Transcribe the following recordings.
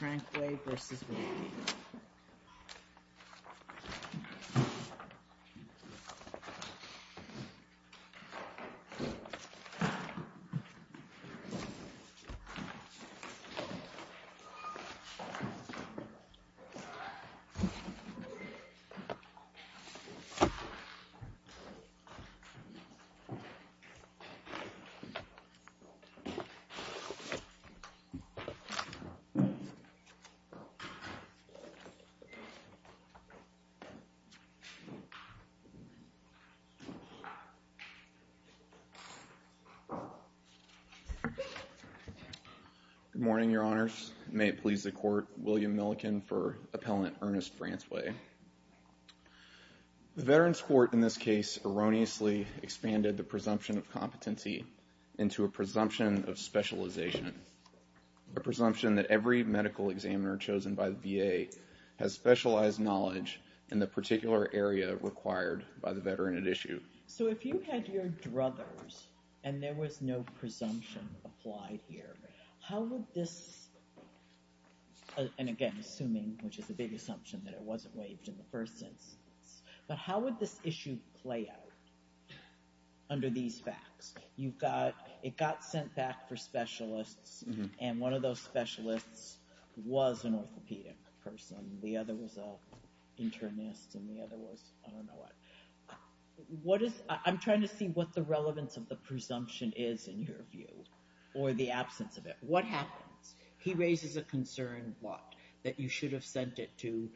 Frankway v. Wilkie Good morning, Your Honors. May it please the Court, William Milliken for Appellant Ernest Frankway. The Veterans Court in this case erroneously expanded the presumption of competency into a presumption of specialization, a presumption that every medical examiner chosen by the VA has specialized knowledge in the particular area required by the Veteran at issue. So if you had your druthers and there was no presumption applied here, how would this – and again, assuming, which is a big assumption that it wasn't waived in the first instance – but how would this issue play out under these facts? It got sent back for specialists and one of those specialists was an orthopedic person, the other was an internist, and the other was I don't know what. I'm trying to see what the relevance of the presumption is in your view, or the absence of it. What happens? He raises a concern, what? That you should have sent it to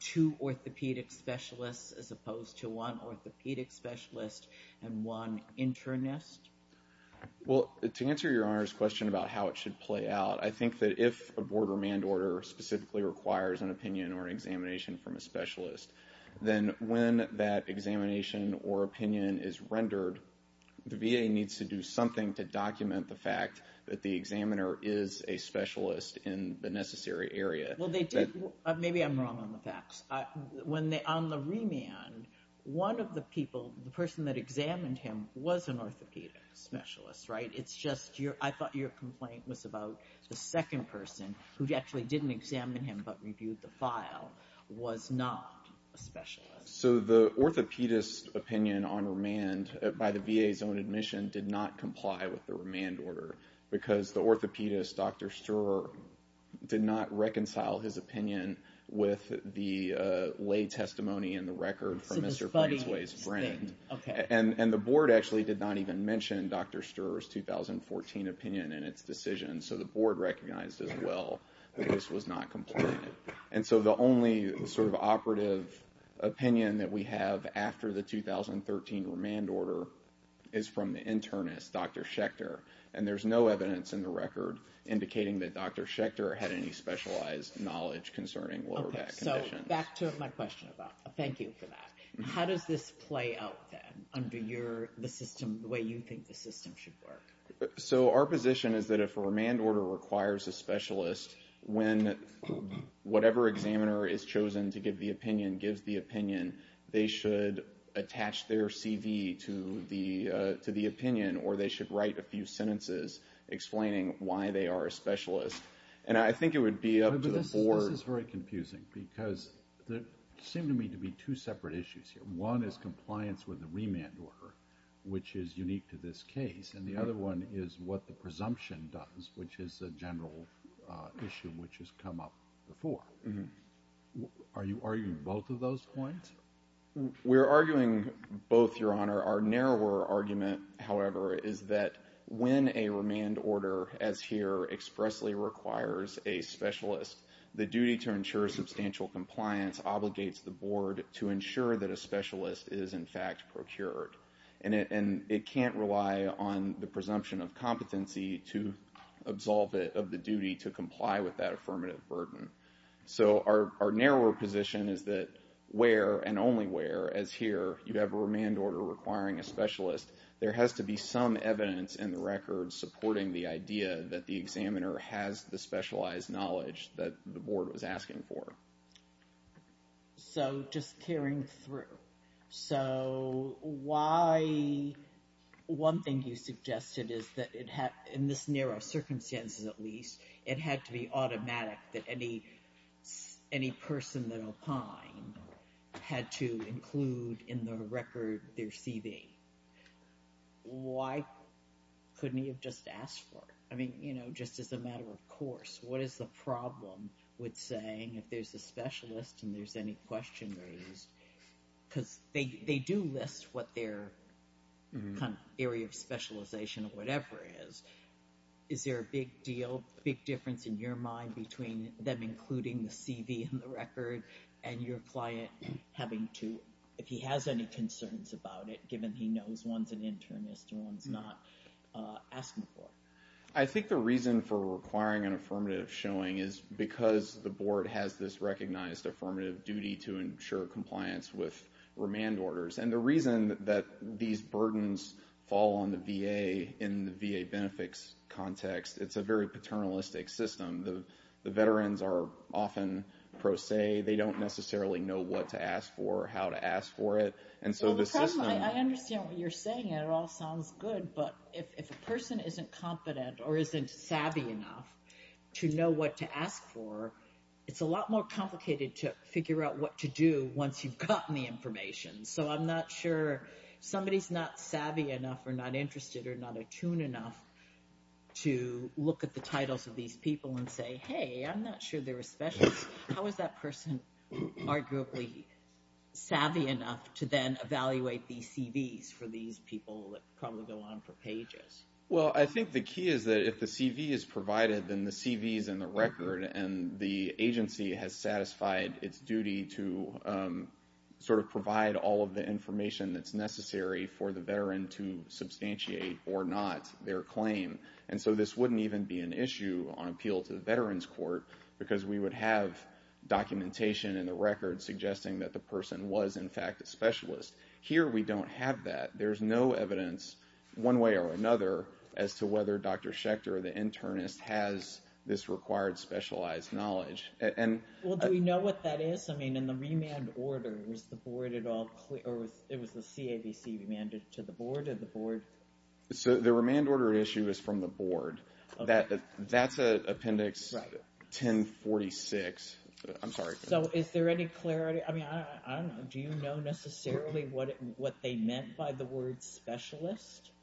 two orthopedic specialists as opposed to one orthopedic specialist and one internist? William Milliken Well, to answer Your Honor's question about how it should play out, I think that if a board or manned order specifically requires an opinion or an examination from a specialist, then when that examination or opinion is rendered, the VA needs to do something to document the fact that the examiner is a specialist in the necessary area. Jody Freeman Well, they did. Maybe I'm wrong on the facts. When they – on the remand, one of the people, the person that examined him was an orthopedic specialist, right? It's just – I thought your complaint was about the second person who actually didn't examine him but reviewed the file was not a specialist. William Milliken So the orthopedist opinion on remand by the VA's own admission did not comply with the remand order because the orthopedist, Dr. Schecter, did not reconcile his opinion with the lay testimony in the record from Mr. Brainsway's friend. Jody Freeman So this buddy thing, okay. William Milliken And the board actually did not even mention Dr. Sturer's 2014 opinion in its decision, so the board recognized as well that this was not compliant. And so the only sort of operative opinion that we have after the 2013 remand order is from the internist, Dr. Schecter, and there's no evidence in the record indicating that Dr. Schecter had any specialized knowledge concerning lower back conditions. Jody Freeman Okay, so back to my question about – thank you for that. How does this play out then under your – the system, the way you think the system should work? William Milliken So our position is that if a remand order requires a specialist, when whatever examiner is chosen to give the opinion gives the opinion, they should attach their CV to the opinion or they should write a few sentences explaining why they are a specialist. And I think it would be up to the board – Jody Freeman But this is very confusing because there seem to me to be two separate issues here. One is compliance with the remand order, which is unique to this case, and the other one is what the presumption does, which is a general issue which has come up before. Are you arguing both of those points? William Milliken We're arguing both, Your Honor. Our narrower argument, however, is that when a remand order, as here, expressly requires a specialist, the duty to ensure substantial compliance obligates the board to ensure that a specialist is in fact procured. And it can't rely on the presumption of competency to absolve it of the duty to comply with that affirmative burden. So our narrower position is that where and only where, as here, you have a remand order requiring a specialist, there has to be some evidence in the record supporting the idea that the examiner has the specialized knowledge that the board was asking for. Jody Freeman So just carrying through, so why – one thing you suggested is that in this narrow circumstances, at least, it had to be automatic that any person that opined had to include in the record their CV. Why couldn't he have just asked for it? I mean, you know, just as a matter of course, what is the problem with saying if there's a specialist and there's any question raised? Because they do list what their area of specialization or whatever is. Is there a big deal, big difference in your mind between them including the CV in the record and your client having to – if he has any concerns about it, given he knows one's an internist and one's not asking for it? Eric Howard I think the reason for requiring an affirmative showing is because the board has this recognized affirmative duty to ensure compliance with in the VA benefits context, it's a very paternalistic system. The veterans are often pro se. They don't necessarily know what to ask for, how to ask for it. And so the system – Jody Freeman I understand what you're saying. It all sounds good. But if a person isn't competent or isn't savvy enough to know what to ask for, it's a lot more complicated to figure out what to do once you've gotten the information. So I'm not sure – if somebody's not savvy enough or not interested or not attuned enough to look at the titles of these people and say, hey, I'm not sure they're a specialist, how is that person arguably savvy enough to then evaluate these CVs for these people that probably go on for pages? Eric Howard Well, I think the key is that if the CV is provided then the CV is in the record and the agency has satisfied its duty to sort of provide all of the information that's necessary for the veteran to substantiate or not their claim. And so this wouldn't even be an issue on appeal to the Veterans Court because we would have documentation in the record suggesting that the person was in fact a specialist. Here we don't have that. There's no evidence one way or another as to whether Dr. Schechter, the internist, has this required specialized knowledge. Jody Freeman Well, do we know what that is? I mean, in the remand order, was the board at all – or it was the CAVC who remanded it to the board or the board? Eric Howard So the remand order issue is from the board. That's Appendix 1046. I'm sorry. Jody Freeman So is there any clarity – I mean, I don't know. Do you know necessarily what they meant by the word specialist? Eric Howard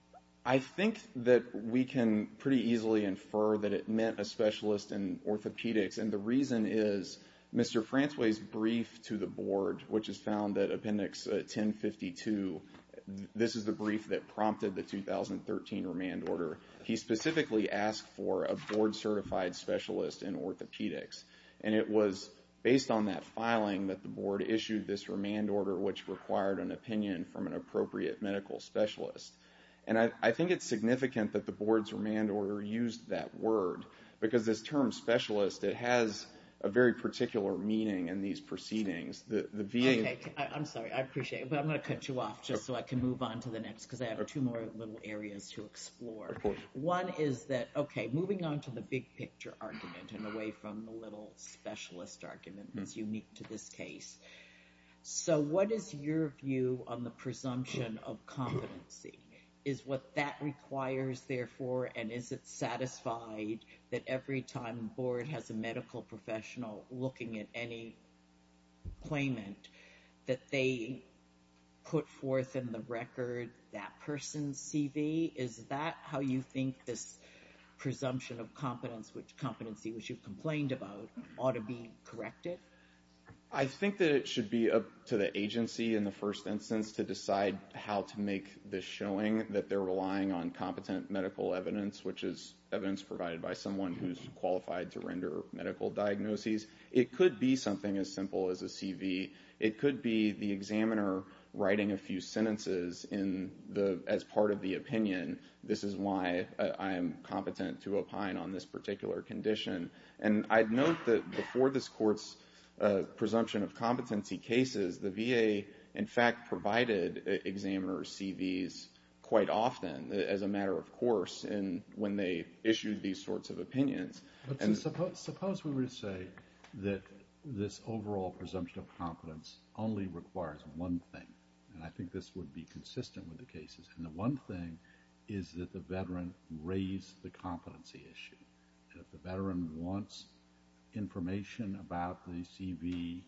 I think that we can pretty easily infer that it meant a specialist in orthopedics. And the reason is Mr. Fransway's brief to the board, which is found at Appendix 1052, this is the brief that prompted the 2013 remand order. He specifically asked for a board-certified specialist in orthopedics. And it was based on that filing that the board issued this remand order, which required an opinion from an appropriate medical specialist. And I think it's significant that the board's remand order used that word, because this term specialist, it has a very particular meaning in these proceedings. Jody Freeman Okay. I'm sorry. I appreciate it. But I'm going to cut you off just so I can move on to the next, because I have two more little areas to explore. One is that – okay, moving on to the big picture argument and away from the little specialist argument that's unique to this case. So what is your view on the Is it satisfied that every time the board has a medical professional looking at any claimant, that they put forth in the record that person's CV? Is that how you think this presumption of competency, which you've complained about, ought to be corrected? Matt Lauer I think that it should be up to the agency in the first instance to decide how to make this showing that they're relying on competent medical evidence, which is evidence provided by someone who's qualified to render medical diagnoses. It could be something as simple as a CV. It could be the examiner writing a few sentences as part of the opinion, this is why I am competent to opine on this particular condition. And I'd note that before this court's presumption of competency cases, the VA in fact provided examiner's CVs quite often as a matter of course when they issued these sorts of opinions. Judge Goldberg Suppose we were to say that this overall presumption of competence only requires one thing, and I think this would be consistent with the cases, and the one thing is that the veteran raised the competency issue. If the veteran wants information about the CV,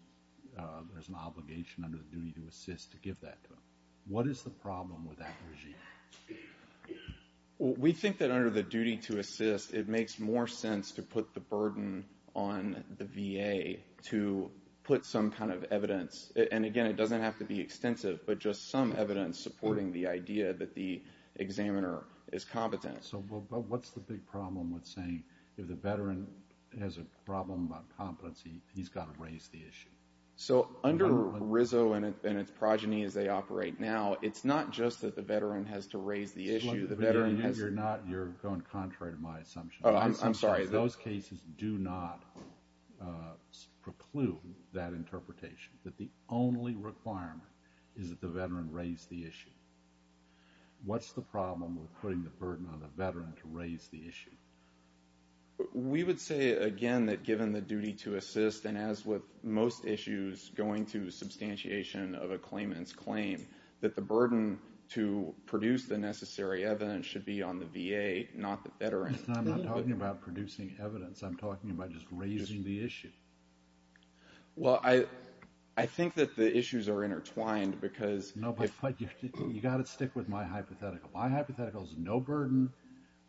there's an obligation under the duty to assist to give that to him. What is the problem with that regime? Matt Lauer We think that under the duty to assist, it makes more sense to put the burden on the VA to put some kind of evidence, and again it doesn't have to be extensive, but just some evidence supporting the idea that the examiner is competent. Judge Goldberg So what's the big problem with saying if the veteran has a problem about competency, he's got to raise the issue? Matt Lauer So under RISO and its progeny as they operate now, it's not just that the veteran has to raise the issue, the veteran has to Judge Goldberg You're going contrary to my assumption. Matt Lauer I'm sorry. Judge Goldberg Those cases do not preclude that interpretation, that the only requirement is that the veteran raise the issue. What's the problem with putting the burden on the veteran to raise the issue? Matt Lauer We would say again that given the duty to assist and as with most issues going to substantiation of a claimant's claim, that the burden to produce the necessary evidence should be on the VA, not the veteran. Judge Goldberg I'm not talking about producing evidence, I'm talking about just raising the issue. Matt Lauer Well, I think that the issues are intertwined because Judge Goldberg No, but you've got to stick with my hypothetical. My hypothetical is no burden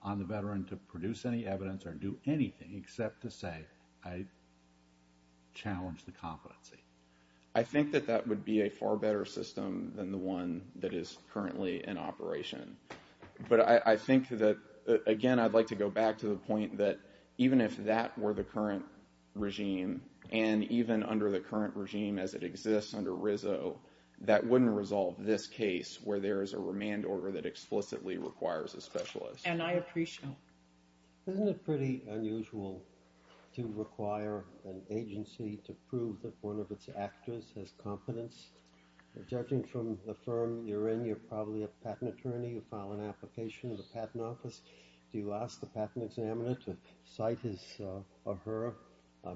on the veteran to produce any evidence or do anything except to say I challenge the competency. Matt Lauer I think that that would be a far better system than the one that is currently in operation. But I think that again I'd like to go back to the point that even if that were the current regime and even under the current regime as it exists under RISO, that wouldn't resolve this case where there is a remand order that explicitly requires a specialist. Judge Goldberg And I appreciate that. Judge Goldberg Isn't it pretty unusual to require an agency to prove that one of its actors has competence? Judging from the firm you're in, you're probably a patent attorney, you file an application in the patent office, do you ask the patent examiner to cite his or her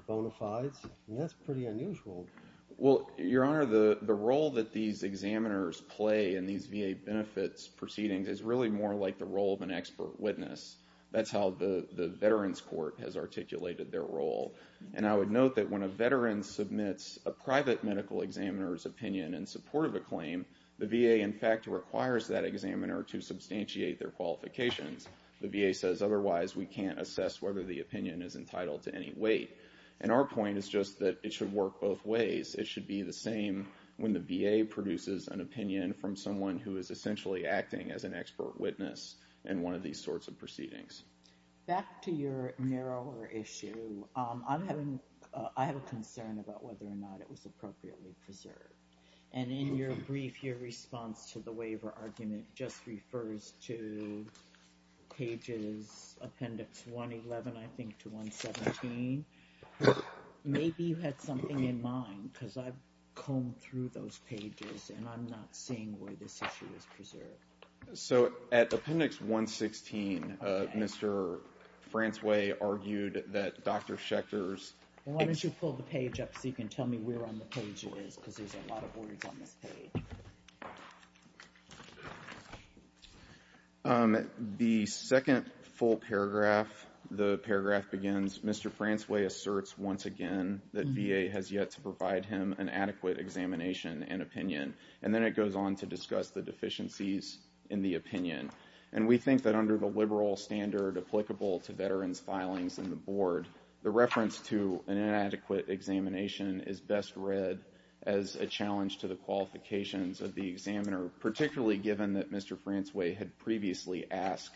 bona fides? That's pretty unusual. Matt Lauer Well, Your Honor, the role that these examiners play in these VA benefits proceedings is really more like the role of an expert witness. That's how the veterans court has articulated their role. And I would note that when a veteran submits a private medical examiner's opinion in support of a claim, the VA in fact requires that examiner to substantiate their qualifications. The VA says otherwise we can't assess whether the opinion is entitled to any weight. And our point is just that it should work both from someone who is essentially acting as an expert witness in one of these sorts of proceedings. Judge Goldberg Back to your narrower issue, I have a concern about whether or not it was appropriately preserved. And in your brief, your response to the waiver argument just refers to pages, appendix 111, I think, to 117. Maybe you had something in mind because I've combed through those pages and I'm not seeing where this issue is preserved. Matt Lauer So at appendix 116, Mr. Fransway argued that Dr. Schechter's... Judge Goldberg Why don't you pull the page up so you can tell me where on the page it is because there's a lot of words on this page. Matt Lauer The second full paragraph, the paragraph begins, Mr. Fransway asserts once again that VA has yet to provide him an adequate examination and opinion. And then it goes on to discuss the deficiencies in the opinion. And we think that under the liberal standard applicable to veterans' filings in the board, the reference to an inadequate examination is best read as a challenge to the qualifications of the examiner, particularly given that Mr. Fransway had previously asked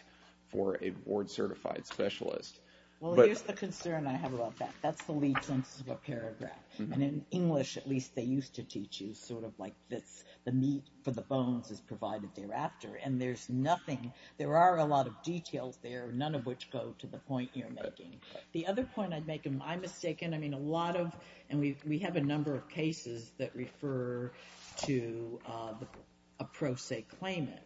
for a board certified specialist. Judge Goldberg Well, here's the concern I have about that. That's the lead sentence of a paragraph. And in English, at least, they used to teach you sort of like this, the meat for the bones is provided thereafter. And there's nothing, there are a lot of details there, none of which go to the point you're making. The other point I'd make, and I'm mistaken, I mean, a lot of, and we have a number of cases that refer to a pro se claimant.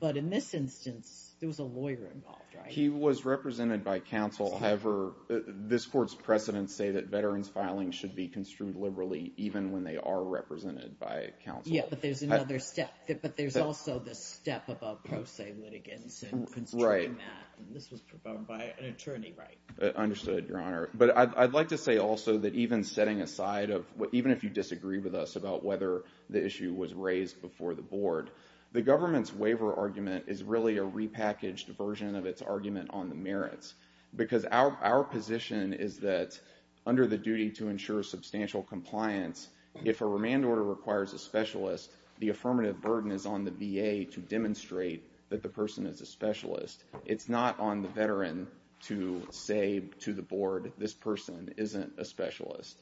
But in this instance, there was a lawyer involved, right? Judge Goldberg And he was a lawyer? Matt Lauer Yes. Judge Goldberg And he was a lawyer? Collette Yes. Collette I have a question for counsel, however. This court's precedent said that veterans' filings should be construed liberally even when they are represented by counsel. Ms. Branson Yes, but there's another step. But there's also the step of a pro se litigant in construction that. Mr. Lauer Right. Ms. Branson And this was performed by an attorney, right? Mr. Lauer I understood, Your Honor. But I'd like to say also that even setting aside of what even if you disagree with us about whether the issue was raised before the board, the government's waiver argument is really a repackaged version of its argument on the merits because it's not as candid as the START Act. Because our position is that under the duty to ensure substantial compliance, if a remand order requires a specialist, the affirmative burden is on the VA to demonstrate that the person is a specialist. It's not on the veteran to say to the board, this person isn't a specialist.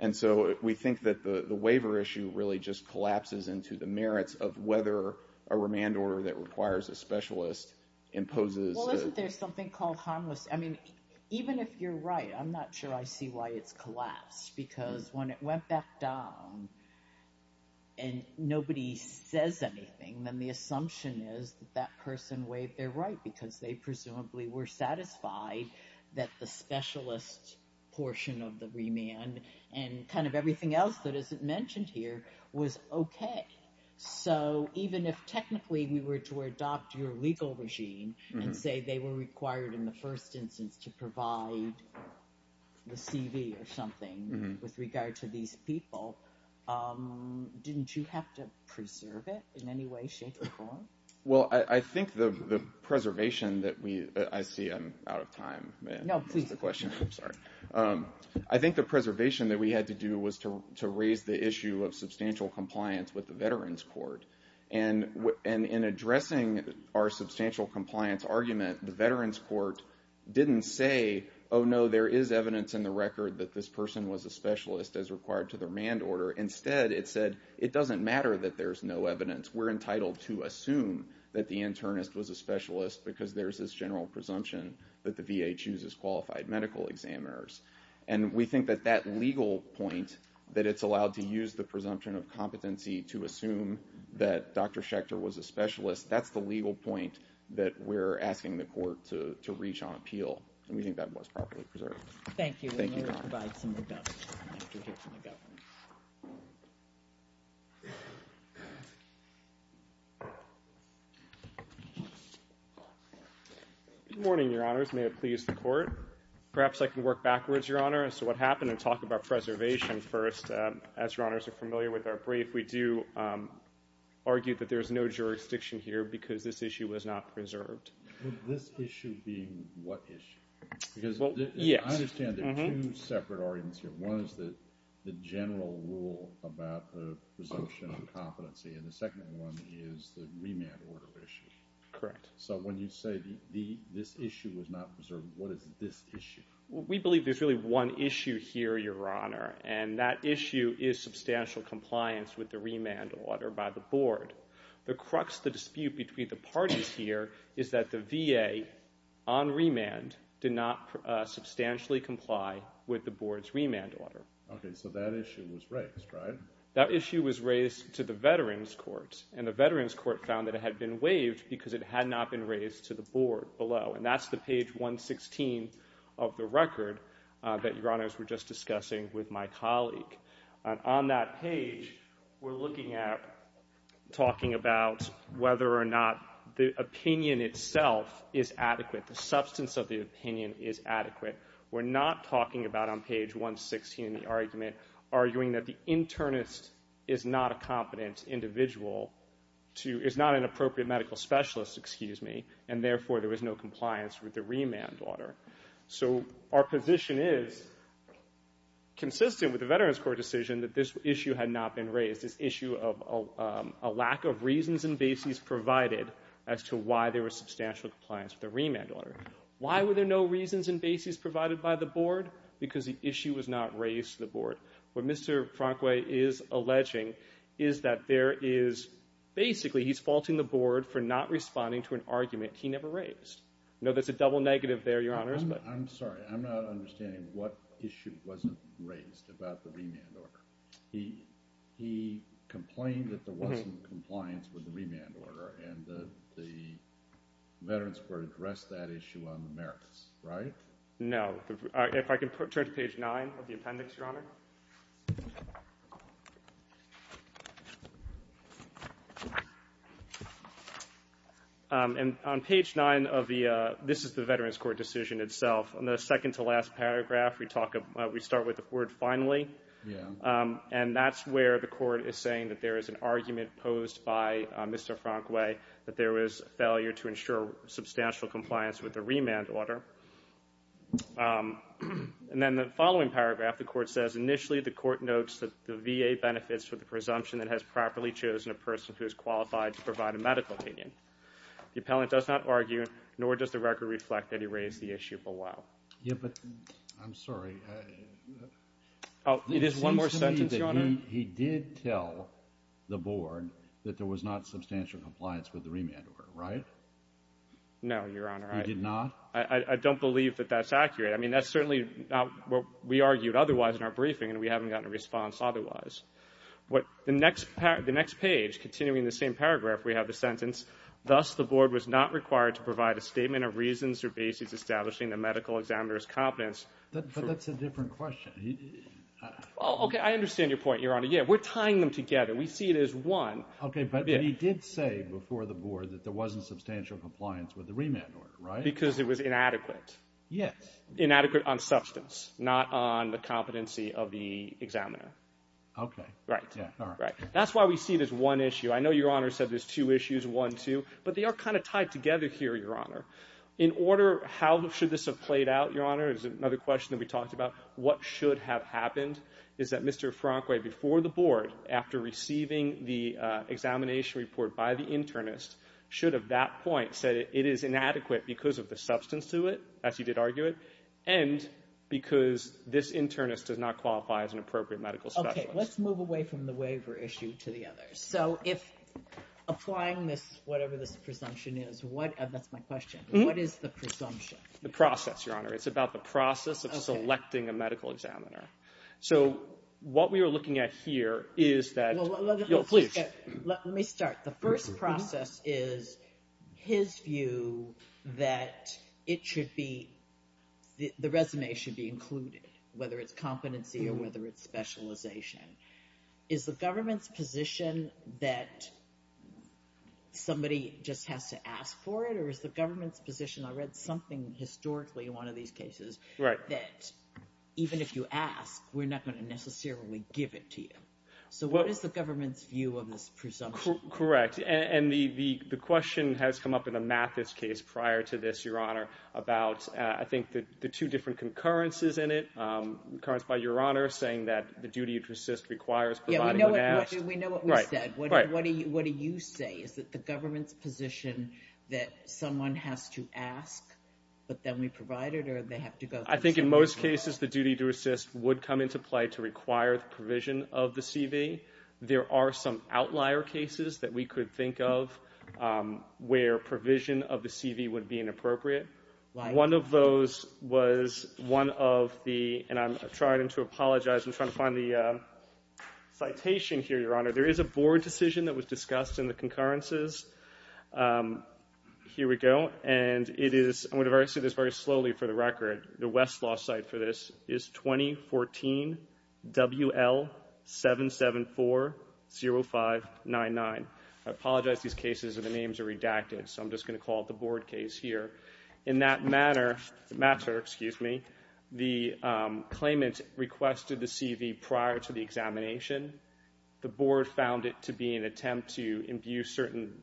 And so we think that the waiver issue really just collapses into the merits of whether a remand order that requires a specialist imposes. Ms. Branson Well, isn't there something called harmless? I mean, even if you're right, I'm not sure I see why it's collapsed. Because when it went back down, and nobody says anything, then the assumption is that that person waived their right because they presumably were satisfied that the specialist portion of the remand and kind of everything else that isn't mentioned here was okay. So even if technically we were to adopt your legal regime and say they were required in the first instance to provide the CV or something with regard to these people, didn't you have to preserve it in any way, shape, or form? Mr. Cuthbert Well, I think the preservation that we, I see I'm out of time. Ms. Branson No, please. Mr. Cuthbert I'm sorry. I think the preservation that we had to do was to raise the issue of substantial compliance with the Veterans Court. And in addressing our substantial compliance argument, the Veterans Court didn't say, oh, no, there is evidence in the record that this person was a specialist as required to the remand order. Instead, it said, it doesn't matter that there's no evidence. We're entitled to assume that the internist was a specialist because there's this general presumption that the VA chooses qualified medical examiners. And we think that that legal point, that it's allowed to use the presumption of competency to assume that Dr. Schechter was a specialist, that's the legal point that we're asking the court to reach on appeal. And we think that was properly preserved. Ms. Branson Thank you. And we'll provide some more documents after we hear from the Governor. Good morning, Your Honors. May it please the Court. Perhaps I can work backwards, Your Honor, as to what happened and talk about preservation first. As Your Honors are familiar with our brief, we do argue that there's no jurisdiction here because this issue was not preserved. This issue being what issue? Well, yes. I understand there are two separate arguments here. One is the general rule about the presumption of competency, and the second one is the remand order issue. Correct. So when you say this issue was not preserved, what is this issue? We believe there's really one issue here, Your Honor, and that issue is substantial compliance with the remand order by the board. The crux of the dispute between the parties here is that the VA on remand did not substantially comply with the board's remand order. Okay. So that issue was raised, right? That issue was raised to the Veterans Court, and the Veterans Court found that it had been waived because it had not been raised to the board below. And that's the page 116 of the record that Your Honors were just discussing with my colleague. On that page, we're looking at, talking about whether or not the opinion itself is adequate, the substance of the opinion is adequate. We're not talking about on page 116 of the argument, arguing that the internist is not a competent individual to, is not an appropriate medical specialist, excuse me, and therefore there was no compliance with the remand order. So our position is consistent with the Veterans Court decision that this issue had not been raised, this issue of a lack of reasons and bases provided as to why there was substantial compliance with the remand order. Why were there no reasons and bases provided by the board? Because the issue was not raised to the board. What Mr. Frankway is alleging is that there is, basically he's faulting the board for not responding to an argument he never raised. I know that's a double negative there, Your Honors, but... I'm sorry, I'm not understanding what issue wasn't raised about the remand order. He complained that there wasn't compliance with the remand order and the Veterans Court addressed that issue on the merits, right? No. If I can turn to page 9 of the appendix, Your Honor. And on page 9 of the, this is the Veterans Court decision itself. On the second to last paragraph, we talk about, we start with the word finally. And that's where the court is saying that there is an argument posed by Mr. Frankway that there was failure to ensure substantial compliance with the remand order. And then the following paragraph, the court says, initially, the court notes that the VA benefits for the presumption that has properly chosen a person who is qualified to provide a medical opinion. The appellant does not argue, nor does the record reflect that he raised the issue below. Yeah, but I'm sorry. Oh, it is one more sentence, Your Honor. It seems to me that he did tell the board that there was not substantial compliance with the remand order, right? No, Your Honor. He did not? I don't believe that that's accurate. I mean, that's certainly not what we argued otherwise in our briefing, and we haven't gotten a response otherwise. The next page, continuing the same paragraph, we have the sentence, thus, the board was not required to provide a statement of reasons or basis establishing the medical examiner's competence. But that's a different question. Oh, okay. I understand your point, Your Honor. Yeah, we're tying them together. We see it as one. Okay, but he did say before the board that there wasn't substantial compliance with the remand order, right? Because it was inadequate. Yes. Inadequate on substance, not on the competency of the examiner. Okay. Right. Yeah, all right. That's why we see it as one issue. I know Your Honor said there's two issues, one, two, but they are kind of tied together here, Your Honor. In order, how should this have played out, Your Honor, is another question that we talked about. What should have happened is that Mr. Franqui before the board, after receiving the examination report by the internist, should have, at that point, said it is inadequate because of the substance to it, as he did argue it, and because this internist does not qualify as an appropriate medical specialist. Okay, let's move away from the waiver issue to the others. So, if applying this, whatever this presumption is, what, that's my question, what is the presumption? The process, Your Honor. It's about the process of selecting a medical examiner. So, what we are looking at here is that, you know, please. Let me start. The first process is his view that it should be, the resume should be included, whether it's competency or whether it's specialization. Is the government's position that somebody just has to ask for it, or is the government's position, I read something historically in one of these cases, that even if you ask, we're not going to necessarily give it to you? So, what is the government's view of this presumption? Correct, and the question has come up in a Mathis case prior to this, Your Honor, about, I think, the two different concurrences in it. Concurrence by Your Honor, saying that the duty to assist requires providing when asked. We know what we said. What do you say? Is it the government's position that someone has to ask, but then we provide it, or do they have to go through? I think in most cases, the duty to assist would come into play to require the provision of the CV. There are some outlier cases that we could think of where provision of the CV would be inappropriate. One of those was one of the, and I'm trying to apologize, I'm trying to find the citation here, Your Honor. There is a board decision that was discussed in the concurrences. Here we go, and it is, I'm going to say this very slowly for the record, the Westlaw site for this is 2014 WL7740599. I apologize these cases and the names are redacted, so I'm just going to call it the board case here. In that matter, the claimant requested the CV prior to the examination. The board found it to be an attempt to imbue certain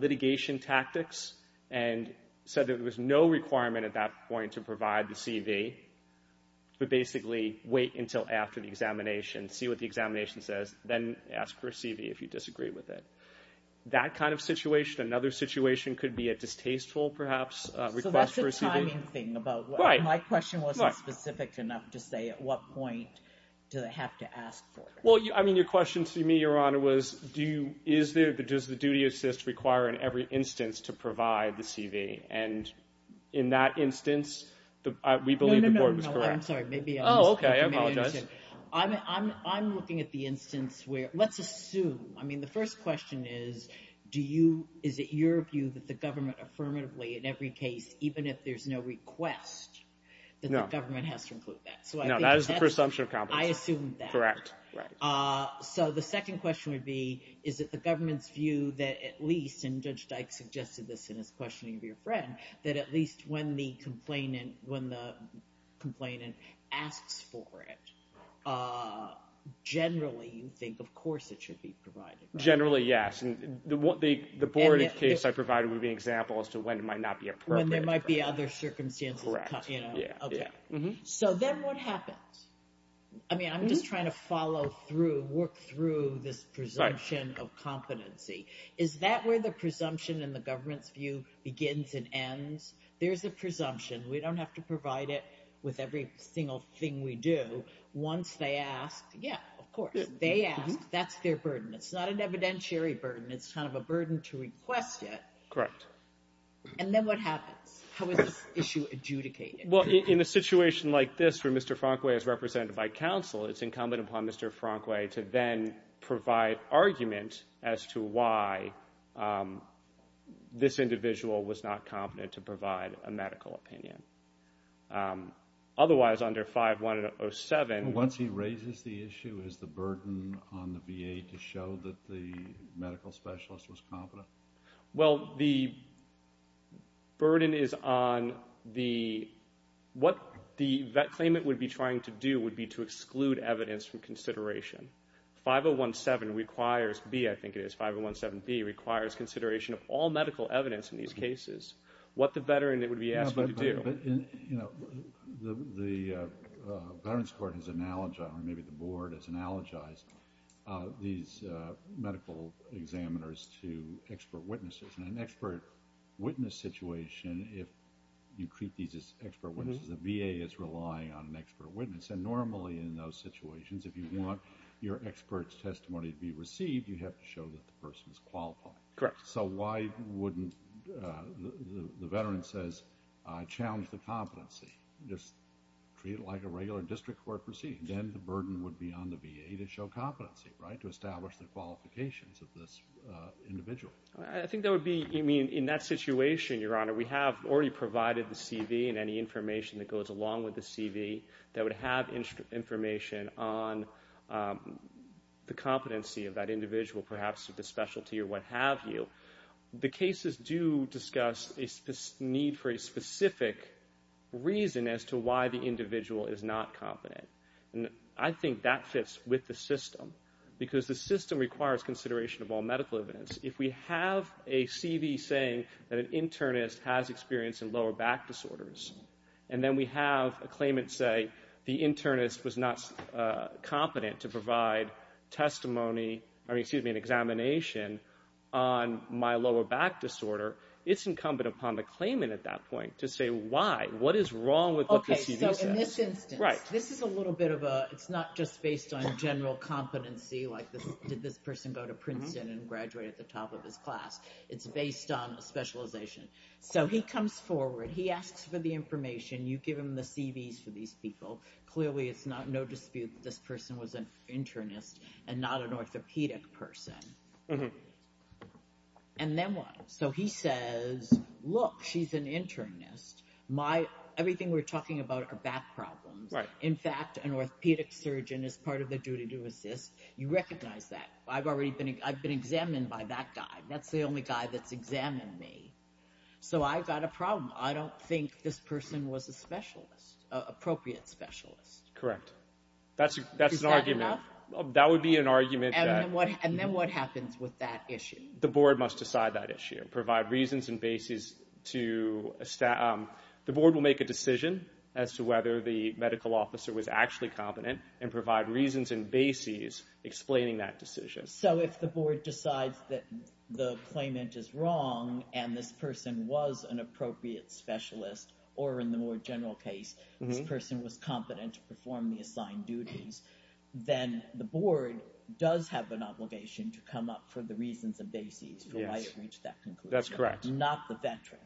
litigation tactics, and said there was no requirement at that point to provide the CV, but basically wait until after the examination, see what the examination says, then ask for a CV if you disagree with it. That kind of situation, another situation could be a distasteful, perhaps, request for a CV. So that's a timing thing. My question wasn't specific enough to say at what point do they have to ask for it. Well, I mean, your question to me, Your Honor, was, is there, does the duty of assist require in every instance to provide the CV? And in that instance, we believe the board was correct. No, no, no, I'm sorry, maybe I misunderstood your question. Oh, okay, I apologize. I'm looking at the instance where, let's assume, I mean, the first question is, do you, is it your view that the government affirmatively in every case, even if there's no request, that the government has to include that? No, that is the presumption of competency. I assumed that. Correct. Right. So the second question would be, is it the government's view that at least, and Judge Dyke suggested this in his questioning of your friend, that at least when the complainant asks for it, generally you think, of course, it should be provided, right? Generally, yes. And the board case I provided would be an example as to when it might not be appropriate. When there might be other circumstances. Correct. You know? Yeah. Okay. So then what happens? I mean, I'm just trying to follow through, work through this presumption of competency. Is that where the presumption and the government's view begins and ends? There's a presumption. We don't have to provide it with every single thing we do. Once they ask, yeah, of course, they ask. That's their burden. It's not an evidentiary burden. It's kind of a burden to request it. Correct. And then what happens? How is this issue adjudicated? Well, in a situation like this where Mr. Frankway is represented by counsel, it's incumbent upon Mr. Frankway to then provide argument as to why this individual was not competent to provide a medical opinion. Otherwise, under 5107 ---- Once he raises the issue, is the burden on the VA to show that the medical specialist was competent? Well, the burden is on the ---- What the claimant would be trying to do would be to exclude evidence from consideration. 5017 requires ---- B, I think it is, 5017B, requires consideration of all medical evidence in these cases. What the veteran would be asking to do. The Veterans Court has analogized, or maybe the Board has analogized, these medical examiners to expert witnesses. In an expert witness situation, if you treat these as expert witnesses, the VA is relying on an expert witness. Normally, in those situations, if you want your expert's testimony to be received, you have to show that the person is qualified. Correct. So why wouldn't, the veteran says, I challenge the competency, just treat it like a regular district court proceeding. Then the burden would be on the VA to show competency, right, to establish the qualifications of this individual. I think that would be, I mean, in that situation, Your Honor, we have already provided the CV and any information that goes along with the CV that would have information on the competency of that individual, perhaps with a specialty or what have you. The cases do discuss a need for a specific reason as to why the individual is not competent. I think that fits with the system, because the system requires consideration of all medical evidence. If we have a CV saying that an internist has experience in lower back disorders, and then we have a claimant say the internist was not competent to provide testimony, or excuse me, an examination on my lower back disorder, it's incumbent upon the claimant at that point to say why, what is wrong with what the CV says. Okay, so in this instance. Right. This is a little bit of a, it's not just based on general competency, like did this person go to Princeton and graduate at the top of his class, it's based on a specialization. So he comes forward, he asks for the information, you give him the CVs for these people, clearly it's no dispute that this person was an internist and not an orthopedic person. And then what? So he says, look, she's an internist. Everything we're talking about are back problems. In fact, an orthopedic surgeon is part of the duty to assist. You recognize that. I've already been, I've been examined by that guy. That's the only guy that's examined me. So I've got a problem. I don't think this person was a specialist, an appropriate specialist. Correct. Is that enough? That's an argument. That would be an argument that... And then what happens with that issue? The board must decide that issue. Provide reasons and bases to... The board will make a decision as to whether the medical officer was actually competent and provide reasons and bases explaining that decision. So if the board decides that the claimant is wrong and this person was an appropriate specialist, or in the more general case, this person was competent to perform the assigned duties, then the board does have an obligation to come up for the reasons and bases for why they didn't reach that conclusion. That's correct. Not the veteran.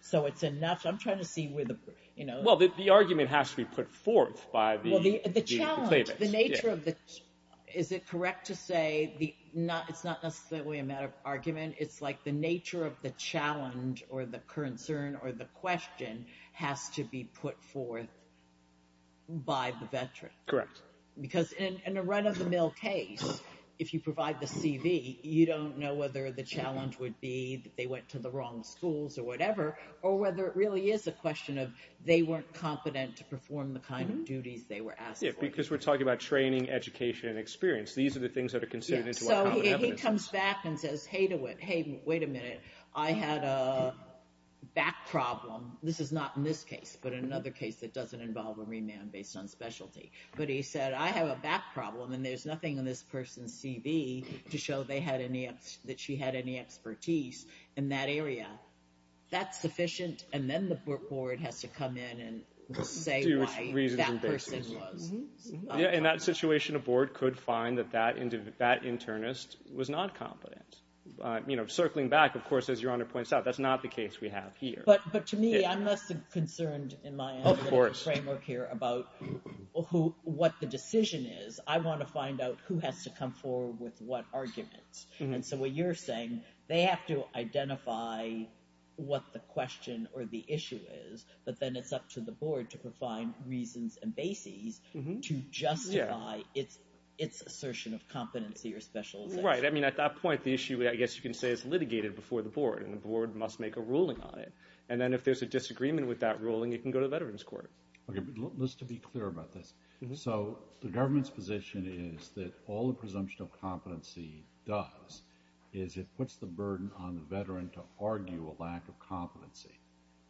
So it's enough. I'm trying to see where the... Well, the argument has to be put forth by the claimant. The nature of the... Is it correct to say, it's not necessarily a matter of argument, it's like the nature of the challenge or the concern or the question has to be put forth by the veteran? Correct. Because in a run-of-the-mill case, if you provide the CV, you don't know whether the claimant be that they went to the wrong schools or whatever, or whether it really is a question of they weren't competent to perform the kind of duties they were asked for. Because we're talking about training, education, and experience. These are the things that are considered into our common evidence. Yeah. So he comes back and says, hey, wait a minute, I had a back problem. This is not in this case, but in another case that doesn't involve a remand based on specialty. But he said, I have a back problem and there's nothing in this person's CV to show that she had any expertise in that area. That's sufficient. And then the board has to come in and say why that person was not competent. Yeah. In that situation, a board could find that that internist was not competent. Circling back, of course, as Your Honor points out, that's not the case we have here. But to me, I'm less concerned in my framework here about what the decision is. I want to find out who has to come forward with what arguments. And so what you're saying, they have to identify what the question or the issue is, but then it's up to the board to provide reasons and bases to justify its assertion of competency or specialization. Right. I mean, at that point, the issue, I guess you can say, is litigated before the board. And the board must make a ruling on it. And then if there's a disagreement with that ruling, it can go to the Veterans Court. Okay. But just to be clear about this, so the government's position is that all the presumption of competency does is it puts the burden on the veteran to argue a lack of competency.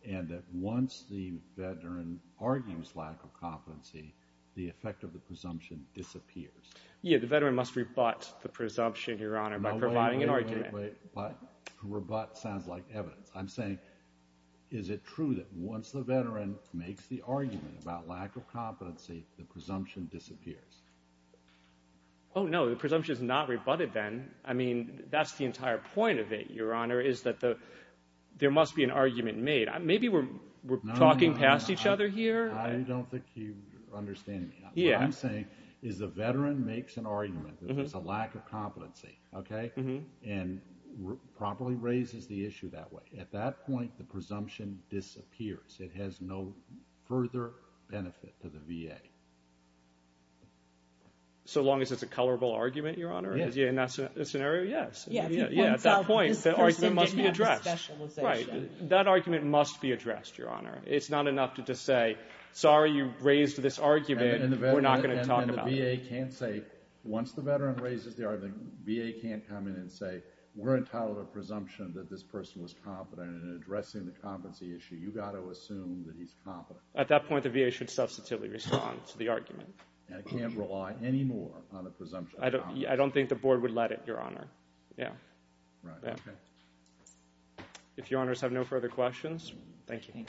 And that once the veteran argues lack of competency, the effect of the presumption disappears. Yeah. The veteran must rebut the presumption, Your Honor, by providing an argument. Wait, wait, wait. What? Rebut sounds like evidence. I'm saying, is it true that once the veteran makes the argument about lack of competency, the presumption disappears? Oh, no. The presumption is not rebutted then. I mean, that's the entire point of it, Your Honor, is that there must be an argument made. Maybe we're talking past each other here. I don't think you understand me. Yeah. What I'm saying is the veteran makes an argument that it's a lack of competency, okay? And properly raises the issue that way. At that point, the presumption disappears. It has no further benefit to the VA. So long as it's a colorable argument, Your Honor? Yeah. In that scenario, yes. Yeah. Yeah. At that point, the argument must be addressed. Specialization. Right. That argument must be addressed, Your Honor. It's not enough to just say, sorry, you raised this argument, we're not going to talk about it. And the VA can't say, once the veteran raises the argument, VA can't come in and say, we're entitled to a presumption that this person was competent in addressing the competency issue. You've got to assume that he's competent. At that point, the VA should substantively respond to the argument. And it can't rely anymore on a presumption. I don't think the board would let it, Your Honor. Yeah. Right. Yeah. Okay. If Your Honors have no further questions, thank you.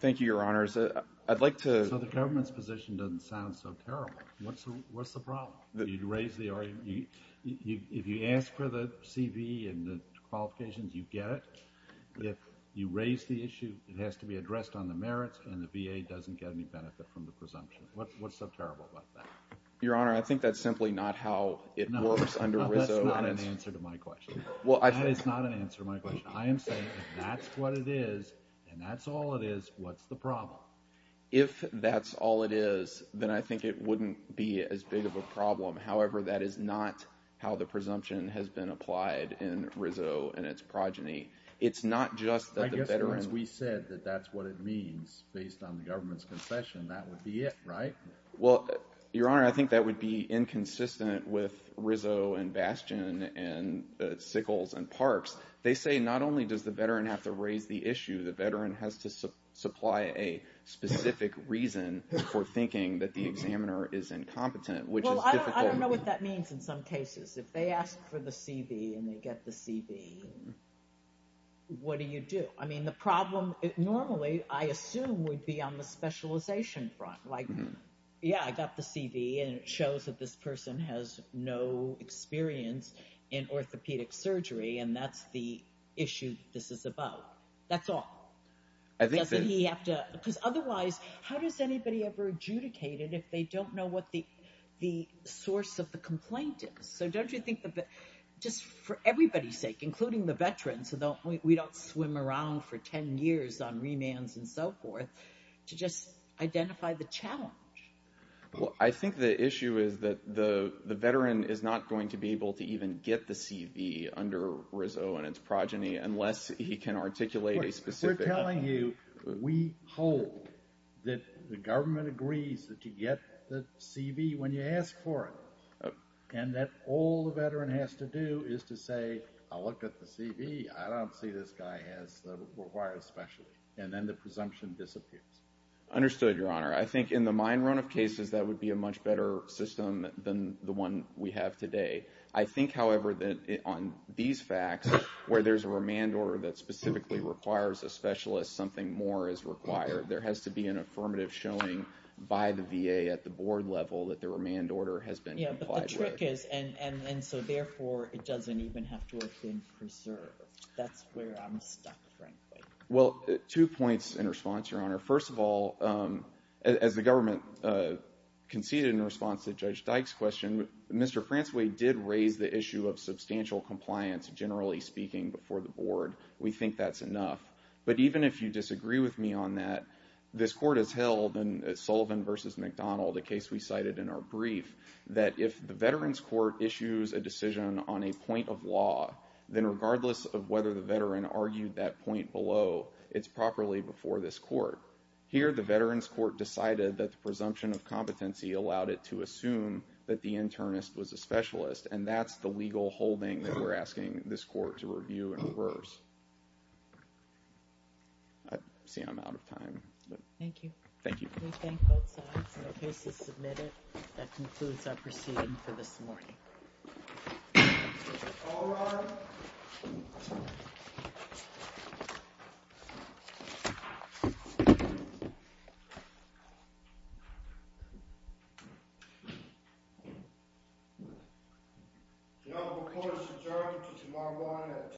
Thank you, Your Honors. I'd like to- So the government's position doesn't sound so terrible. What's the problem? You'd raise the argument. If you ask for the CV and the qualifications, you get it. If you raise the issue, it has to be addressed on the merits and the VA doesn't get any benefit from the presumption. What's so terrible about that? Your Honor, I think that's simply not how it works under RISO. No. That's not an answer to my question. Well, I- That is not an answer to my question. I am saying, if that's what it is, and that's all it is, what's the problem? However, that is not how the presumption has been applied in RISO and its progeny. It's not just that the veteran- I guess, once we said that that's what it means, based on the government's confession, that would be it, right? Well, Your Honor, I think that would be inconsistent with RISO and Bastion and Sickles and Parks. They say, not only does the veteran have to raise the issue, the veteran has to supply a specific reason for thinking that the examiner is incompetent, which is difficult- I don't know what that means in some cases. If they ask for the CV, and they get the CV, what do you do? I mean, the problem, normally, I assume, would be on the specialization front. Like, yeah, I got the CV, and it shows that this person has no experience in orthopedic surgery, and that's the issue that this is about. That's all. I think that- Doesn't he have to- Otherwise, how does anybody ever adjudicate it if they don't know what the source of the complaint is? So, don't you think that, just for everybody's sake, including the veterans, we don't swim around for 10 years on remands and so forth, to just identify the challenge? I think the issue is that the veteran is not going to be able to even get the CV under RISO and its progeny unless he can articulate a specific- What we're telling you, we hope that the government agrees that you get the CV when you ask for it, and that all the veteran has to do is to say, I looked at the CV. I don't see this guy has the required specialty, and then the presumption disappears. Understood, Your Honor. I think in the mine run of cases, that would be a much better system than the one we have today. I think, however, that on these facts, where there's a remand order that specifically requires a specialist, something more is required. There has to be an affirmative showing by the VA at the board level that the remand order has been complied with. Yeah, but the trick is, and so therefore, it doesn't even have to have been preserved. That's where I'm stuck, frankly. Well, two points in response, Your Honor. First of all, as the government conceded in response to Judge Dyke's question, Mr. Francois did raise the issue of substantial compliance, generally speaking, before the board. We think that's enough. But even if you disagree with me on that, this court has held in Sullivan v. McDonald, a case we cited in our brief, that if the Veterans Court issues a decision on a point of law, then regardless of whether the veteran argued that point below, it's properly before this court. Here, the Veterans Court decided that the presumption of competency allowed it to assume that the internist was a specialist, and that's the legal holding that we're asking this court to review and reverse. I see I'm out of time. Thank you. Thank you. We thank both sides. The case is submitted. That concludes our proceeding for this morning. All rise. The court is adjourned until tomorrow morning at 10 a.m.